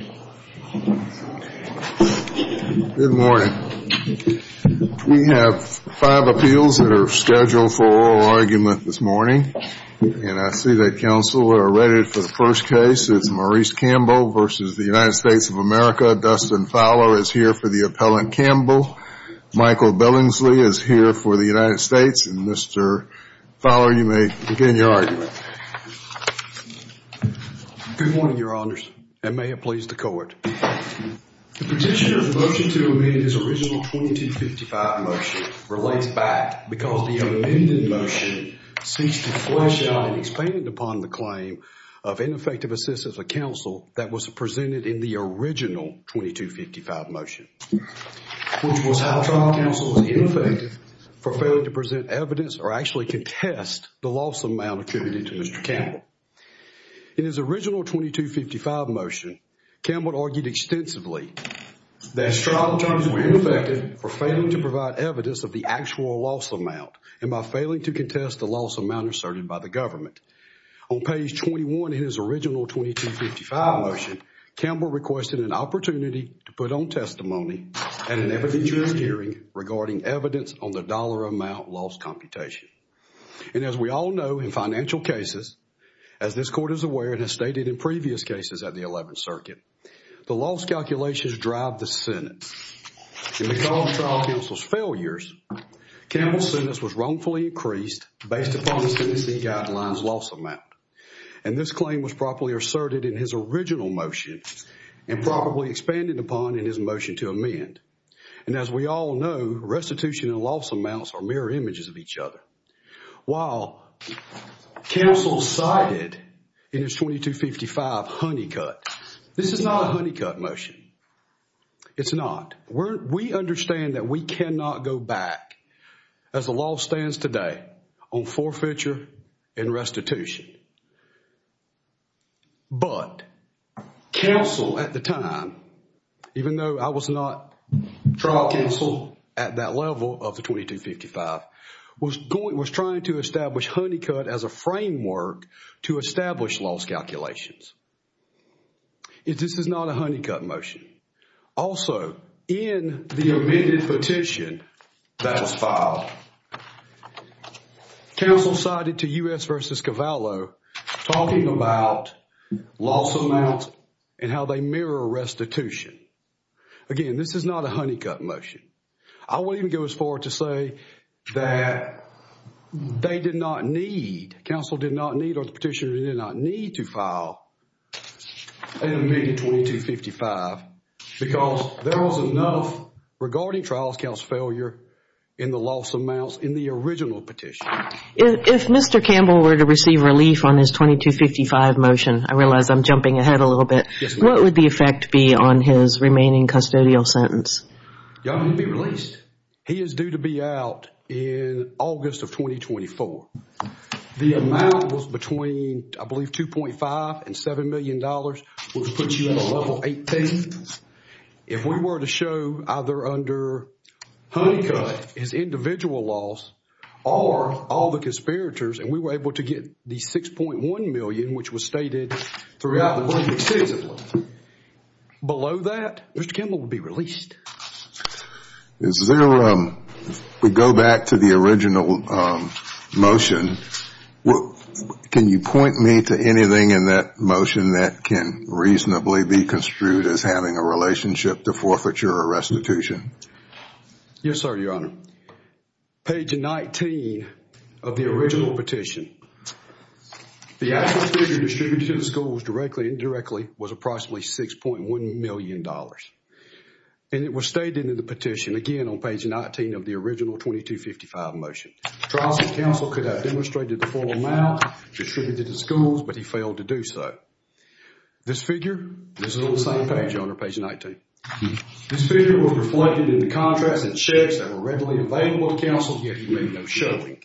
Good morning. We have five appeals that are scheduled for oral argument this morning, and I see that counsel are ready for the first case. It's Maurice Campbell v. United States of America. Dustin Fowler is here for the appellant Campbell. Michael Billingsley is here for the United States, and Mr. Fowler, you may begin your argument. Good morning, Your Honors, and may it please the court. The petitioner's motion to amend his original 2255 motion relates back because the amended motion seeks to flesh out and expand upon the claim of ineffective assistance of counsel that was presented in the original 2255 motion, which was how trial counsel was ineffective for failing to present evidence or actually contest the loss amount attributed to Mr. Campbell. In his original 2255 motion, Campbell argued extensively that his trial attorneys were ineffective for failing to provide evidence of the actual loss amount and by failing to contest the loss amount asserted by the government. On page 21 in his original 2255 motion, Campbell requested an opportunity to put on testimony at an evidentiary hearing regarding evidence on the dollar amount loss computation. And as we all know in financial cases, as this court is aware and has stated in previous cases at the 11th Circuit, the loss calculations drive the Senate. In the cause trial counsel's failures, Campbell's sentence was wrongfully increased based upon the sentencing guidelines loss amount. And this claim was properly asserted in his original motion and probably expanded upon in his motion to amend. And as we all know, restitution and loss amounts are mirror images of each other. While counsel cited in his 2255 honeycut, this is not a honeycut motion. It's not. We understand that we cannot go back, as the law stands today, on forfeiture and restitution. But counsel at the time, even though I was not trial counsel at that level of the 2255, was trying to establish honeycut as a framework to establish loss calculations. This is not a honeycut motion. Also, in the amended petition that was filed, counsel cited to U.S. v. Cavallo talking about loss amounts and how they mirror restitution. Again, this is not a honeycut motion. I won't even go as far as to say that they did not need, counsel did not need or the petitioner did not need to file an amended 2255 because there was enough regarding trial counsel's failure in the loss amounts in the original petition. If Mr. Campbell were to receive relief on his 2255 motion, I realize I'm jumping ahead a little bit, what would the effect be on his remaining custodial sentence? He is due to be out in August of 2024. The amount was between, I believe, $2.5 and $7 million, which puts you at a level 18. If we were to show either under honeycut, his individual loss, or all the conspirators, and we were able to get the $6.1 million, which was stated throughout the work extensively, below that, Mr. Campbell would be released. If we go back to the original motion, can you point me to anything in that motion that can reasonably be construed as having a relationship to forfeiture or restitution? Yes, sir, your honor. Page 19 of the original petition, the actual figure distributed to the schools directly and indirectly was approximately $6.1 million. And it was stated in the petition, again, on page 19 of the original 2255 motion. Trial counsel could have demonstrated the full amount distributed to the schools, but he failed to do so. This figure, this is on the same page, your honor, page 19. This figure was reflected in the contracts and checks that were readily available to counsel, yet he made no showing.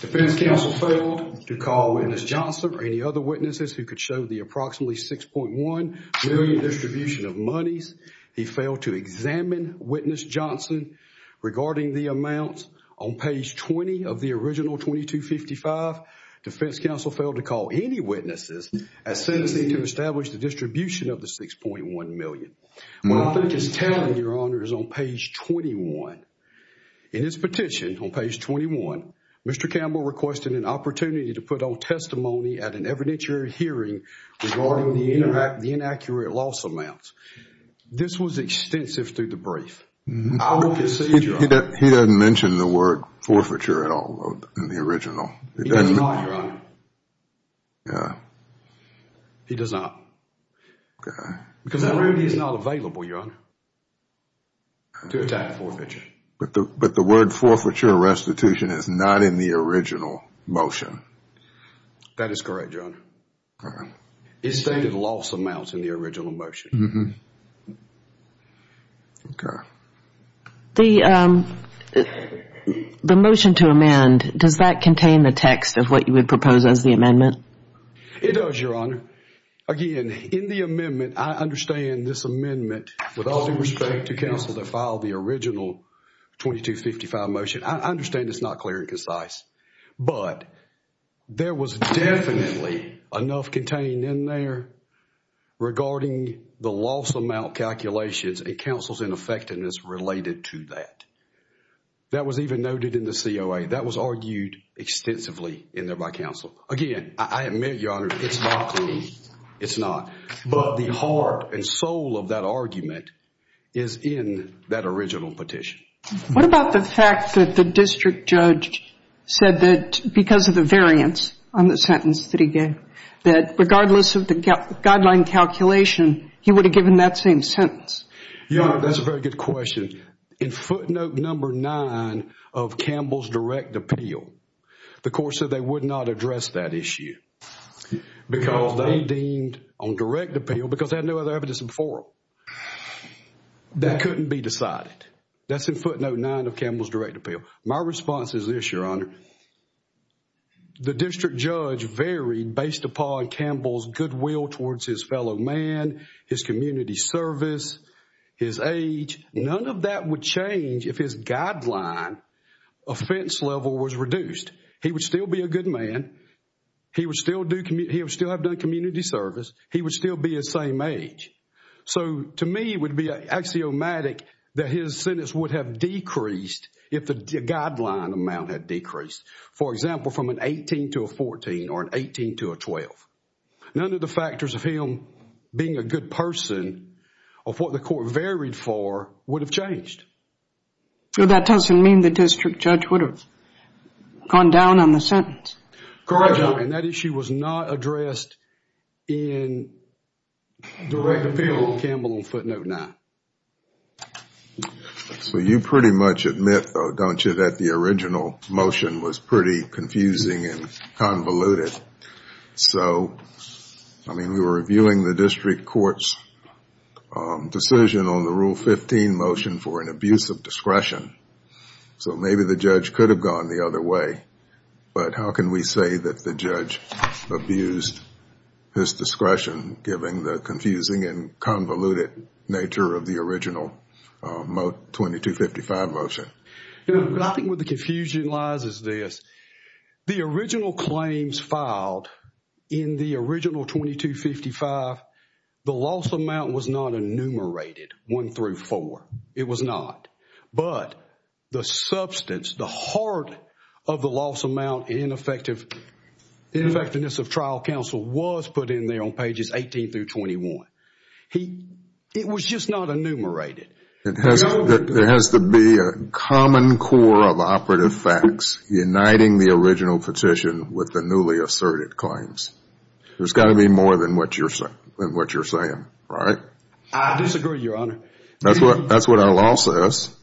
Defense counsel failed to call Witness Johnson or any other witnesses who could show the approximately $6.1 million distribution of monies. He failed to examine Witness Johnson regarding the amount on page 20 of the original 2255. Defense counsel failed to call any witnesses as sentencing to establish the distribution of the $6.1 million. What I think is telling, your honor, is on page 21. In this petition, on page 21, Mr. Campbell requested an opportunity to put on testimony at an evidentiary hearing regarding the inaccurate loss amounts. This was extensive through the brief. He doesn't mention the word forfeiture at all in the original. He does not, your honor. Yeah. He does not. Okay. Because the word is not available, your honor, to attack forfeiture. But the word forfeiture or restitution is not in the original motion. That is correct, your honor. Okay. It stated loss amounts in the original motion. Okay. The motion to amend, does that contain the text of what you would propose as the amendment? It does, your honor. Again, in the amendment, I understand this amendment with all due respect to counsel that filed the original 2255 motion. I understand it's not clear and concise, but there was definitely enough contained in there regarding the loss amount calculations and counsel's ineffectiveness related to that. That was even noted in the COA. That was argued extensively in there by counsel. Again, I admit, your honor, it's not clear. It's not. But the heart and soul of that argument is in that original petition. What about the fact that the district judge said that because of the variance on the sentence that he gave, that regardless of the guideline calculation, he would have given that same sentence? Your honor, that's a very good question. In footnote number nine of Campbell's direct appeal, the court said they would not address that issue because they deemed on direct appeal, because they had no other evidence before them, that couldn't be decided. That's in footnote nine of Campbell's direct appeal. My response is this, your honor. The district judge varied based upon Campbell's goodwill towards his fellow man, his community service, his age. None of that would change if his guideline offense level was reduced. He would still be a good man. He would still have done community service. He would still be the same age. To me, it would be axiomatic that his sentence would have decreased if the guideline amount had decreased. For example, from an 18 to a 14 or an 18 to a 12. None of the factors of him being a good person of what the court varied for would have changed. That doesn't mean the district judge would have gone down on the sentence. Correct, your honor. That issue was not addressed in direct appeal of Campbell in footnote nine. You pretty much admit though, don't you, that the original motion was pretty confusing and convoluted. We were reviewing the district court's decision on the rule 15 motion for an abuse of discretion. Maybe the judge could have gone the other way, but how can we say that the judge abused his discretion given the confusing and convoluted nature of the original 2255 motion? I think where the confusion lies is this. The original claims filed in the original 2255, the loss amount was not enumerated one through four. It was not. But the substance, the heart of the loss amount in effectiveness of trial counsel was put in there on pages 18 through 21. It was just not enumerated. There has to be a common core of operative facts uniting the original petition with the newly asserted claims. There's got to be more than what you're saying, right? I disagree, your honor. That's what our law says.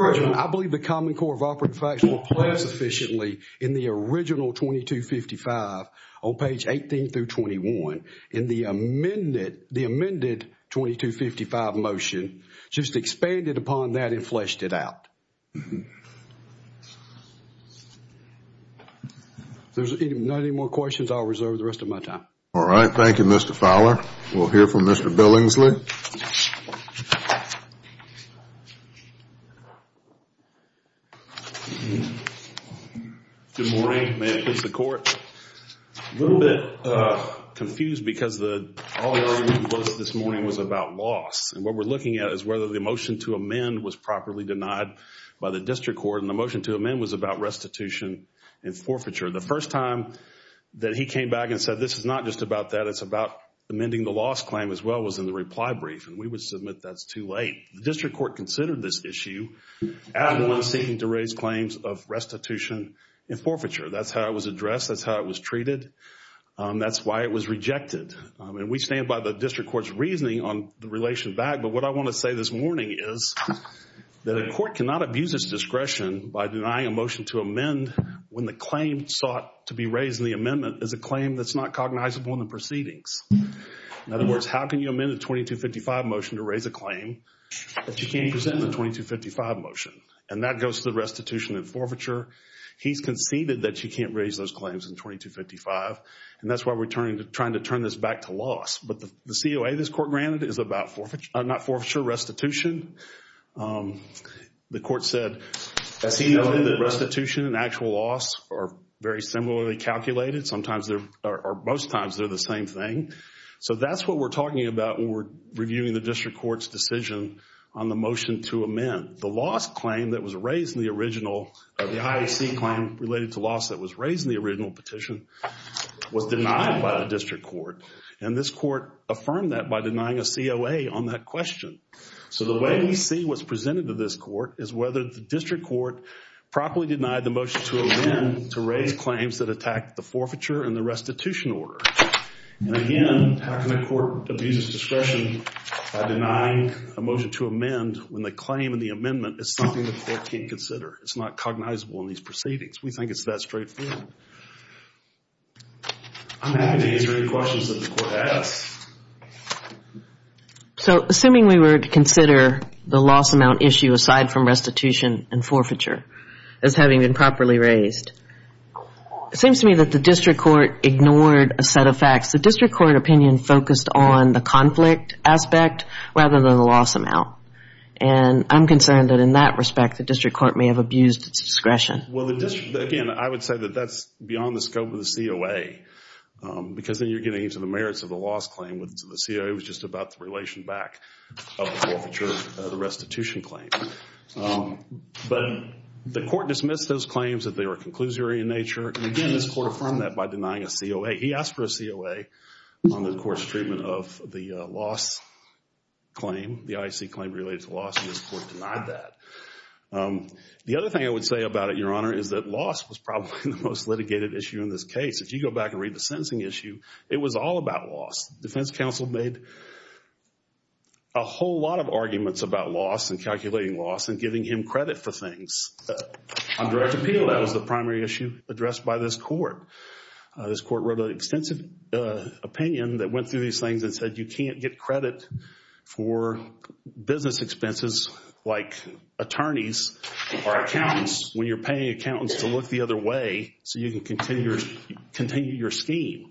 I believe the common core of operative facts will play sufficiently in the original 2255 on page 18 through 21. In the amended 2255 motion, just expanded upon that and fleshed it out. If there's not any more questions, I'll reserve the rest of my time. All right. Thank you, Mr. Fowler. We'll hear from Mr. Billingsley. Thank you. Good morning. May it please the court. A little bit confused because all the argument we posted this morning was about loss. And what we're looking at is whether the motion to amend was properly denied by the district court. And the motion to amend was about restitution and forfeiture. The first time that he came back and said this is not just about that, it's about amending the loss claim as well, was in the reply brief. And we would submit that's too late. The district court considered this issue as one seeking to raise claims of restitution and forfeiture. That's how it was addressed. That's how it was treated. That's why it was rejected. And we stand by the district court's reasoning on the relation back. But what I want to say this morning is that a court cannot abuse its discretion by denying a motion to amend when the claim sought to be raised in the amendment is a claim that's not cognizable in the proceedings. In other words, how can you amend a 2255 motion to raise a claim that you can't present in a 2255 motion? And that goes to the restitution and forfeiture. He's conceded that you can't raise those claims in 2255. And that's why we're trying to turn this back to loss. But the COA this court granted is about restitution. The court said the restitution and actual loss are very similarly calculated. Most times they're the same thing. So that's what we're talking about when we're reviewing the district court's decision on the motion to amend. The loss claim that was raised in the original petition was denied by the district court. And this court affirmed that by denying a COA on that question. So the way we see what's presented to this court is whether the district court properly denied the motion to amend to raise claims that attack the forfeiture and the restitution order. And again, how can the court abuse its discretion by denying a motion to amend when the claim in the amendment is something the court can't consider? It's not cognizable in these proceedings. We think it's that straightforward. I'm happy to answer any questions that the court has. So assuming we were to consider the loss amount issue aside from restitution and forfeiture as having been properly raised, it seems to me that the district court ignored a set of facts. The district court opinion focused on the conflict aspect rather than the loss amount. And I'm concerned that in that respect the district court may have abused its discretion. Well, again, I would say that that's beyond the scope of the COA because then you're getting into the merits of the loss claim. The COA was just about the relation back of the restitution claim. But the court dismissed those claims that they were conclusory in nature. And again, this court affirmed that by denying a COA. He asked for a COA on the court's treatment of the loss claim, the IC claim related to loss, and this court denied that. The other thing I would say about it, Your Honor, is that loss was probably the most litigated issue in this case. If you go back and read the sentencing issue, it was all about loss. Defense counsel made a whole lot of arguments about loss and calculating loss and giving him credit for things. On direct appeal, that was the primary issue addressed by this court. This court wrote an extensive opinion that went through these things and said you can't get credit for business expenses like attorneys or accountants when you're paying accountants to look the other way so you can continue your scheme.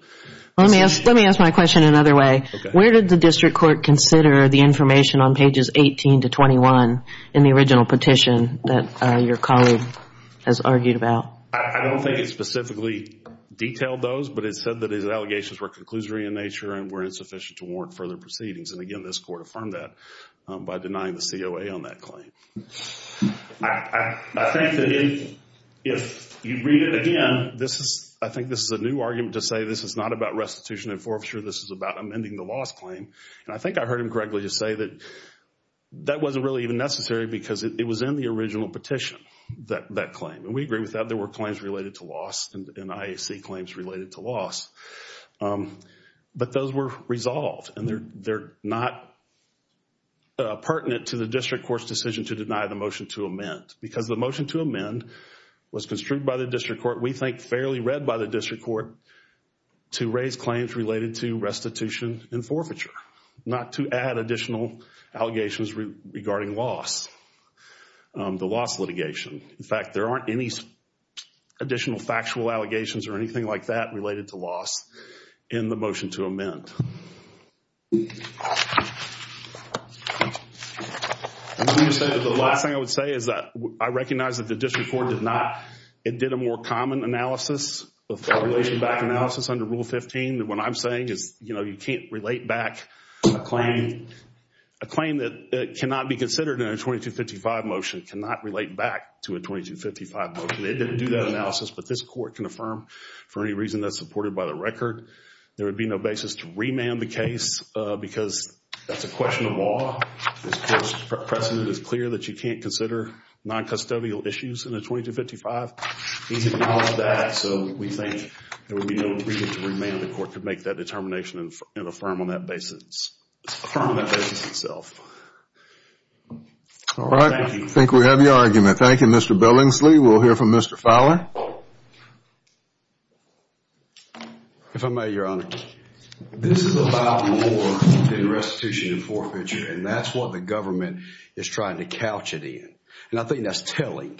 Let me ask my question another way. Where did the district court consider the information on pages 18 to 21 in the original petition that your colleague has argued about? I don't think it specifically detailed those, but it said that his allegations were conclusory in nature and were insufficient to warrant further proceedings. And again, this court affirmed that by denying the COA on that claim. I think that if you read it again, I think this is a new argument to say this is not about restitution and forfeiture. This is about amending the loss claim. And I think I heard him correctly just say that that wasn't really even necessary because it was in the original petition, that claim. And we agree with that. But those were resolved. And they're not pertinent to the district court's decision to deny the motion to amend because the motion to amend was construed by the district court, we think fairly read by the district court, to raise claims related to restitution and forfeiture, not to add additional allegations regarding loss, the loss litigation. In fact, there aren't any additional factual allegations or anything like that related to loss in the motion to amend. The last thing I would say is that I recognize that the district court did not, it did a more common analysis, a relation back analysis under Rule 15. What I'm saying is, you know, you can't relate back a claim, a claim that cannot be considered in a 2255 motion, cannot relate back to a 2255 motion. It didn't do that analysis. But this court can affirm for any reason that's supported by the record. There would be no basis to remand the case because that's a question of law. This court's precedent is clear that you can't consider noncustodial issues in a 2255. These acknowledge that. So we think there would be no reason to remand the court to make that determination and affirm on that basis itself. All right. I think we have your argument. Thank you, Mr. Billingsley. We'll hear from Mr. Fowler. If I may, Your Honor. This is about more than restitution and forfeiture, and that's what the government is trying to couch it in. And I think that's telling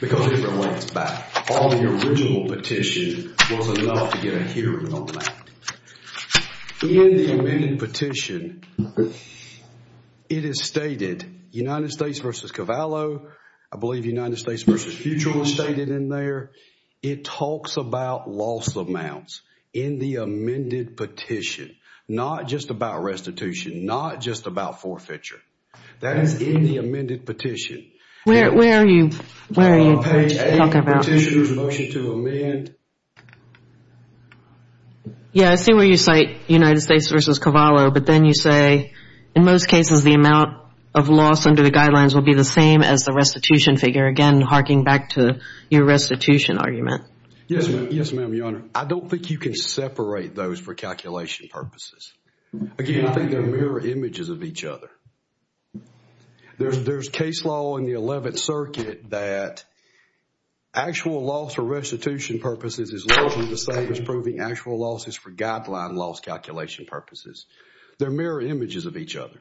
because it relates back. All the original petition was enough to get a hearing on that. In the amended petition, it is stated United States versus Cavallo. I believe United States versus Futrell is stated in there. It talks about loss amounts in the amended petition, not just about restitution, not just about forfeiture. That is in the amended petition. Where are you talking about? Petitioner's motion to amend. Yeah, I see where you cite United States versus Cavallo. But then you say, in most cases, the amount of loss under the guidelines will be the same as the restitution figure. Again, harking back to your restitution argument. Yes, ma'am, Your Honor. I don't think you can separate those for calculation purposes. Again, I think they're mirror images of each other. There's case law in the 11th Circuit that actual loss for restitution purposes is largely the same as proving actual losses for guideline loss calculation purposes. They're mirror images of each other.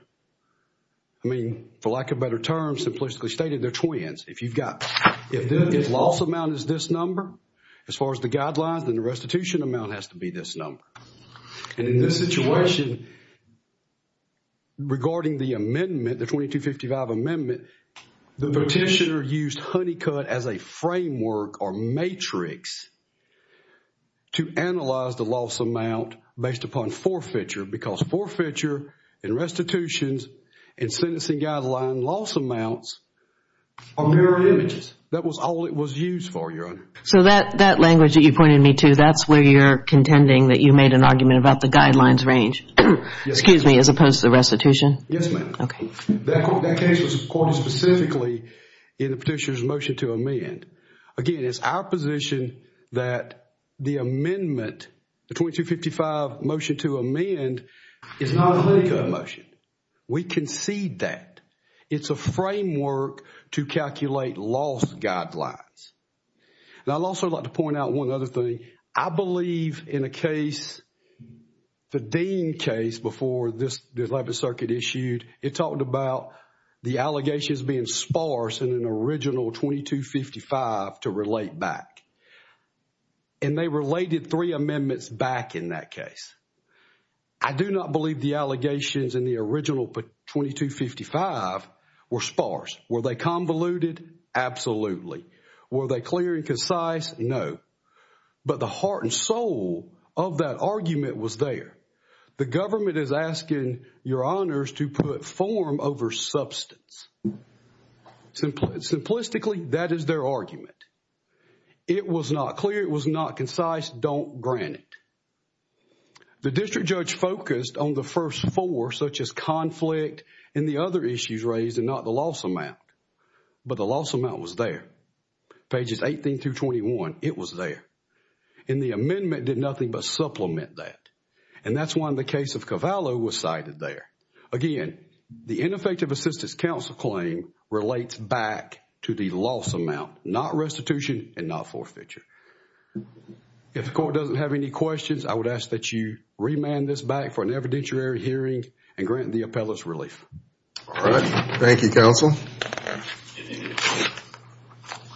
I mean, for lack of a better term, simplistically stated, they're twins. If you've got, if the loss amount is this number, as far as the guidelines, then the restitution amount has to be this number. And in this situation, regarding the amendment, the 2255 amendment, the petitioner used Honeycutt as a framework or matrix to analyze the loss amount based upon forfeiture because forfeiture and restitutions and sentencing guideline loss amounts are mirror images. That was all it was used for, Your Honor. So that language that you pointed me to, that's where you're contending that you made an argument about the guidelines range, excuse me, as opposed to restitution? Yes, ma'am. That case was recorded specifically in the petitioner's motion to amend. Again, it's our position that the amendment, the 2255 motion to amend, is not a Honeycutt motion. We concede that. It's a framework to calculate loss guidelines. And I'd also like to point out one other thing. I believe in a case, the Dean case before this 11th Circuit issued, it talked about the allegations being sparse in an original 2255 to relate back. And they related three amendments back in that case. I do not believe the allegations in the original 2255 were sparse. Were they convoluted? Absolutely. Were they clear and concise? No. But the heart and soul of that argument was there. The government is asking your honors to put form over substance. Simplistically, that is their argument. It was not clear. It was not concise. Don't grant it. The district judge focused on the first four, such as conflict and the other issues raised and not the loss amount. But the loss amount was there. Pages 18 through 21, it was there. And the amendment did nothing but supplement that. And that's why the case of Cavallo was cited there. Again, the ineffective assistance counsel claim relates back to the loss amount, not restitution and not forfeiture. If the court doesn't have any questions, I would ask that you remand this back for an evidentiary hearing and grant the appellate's relief. All right. Thank you, counsel.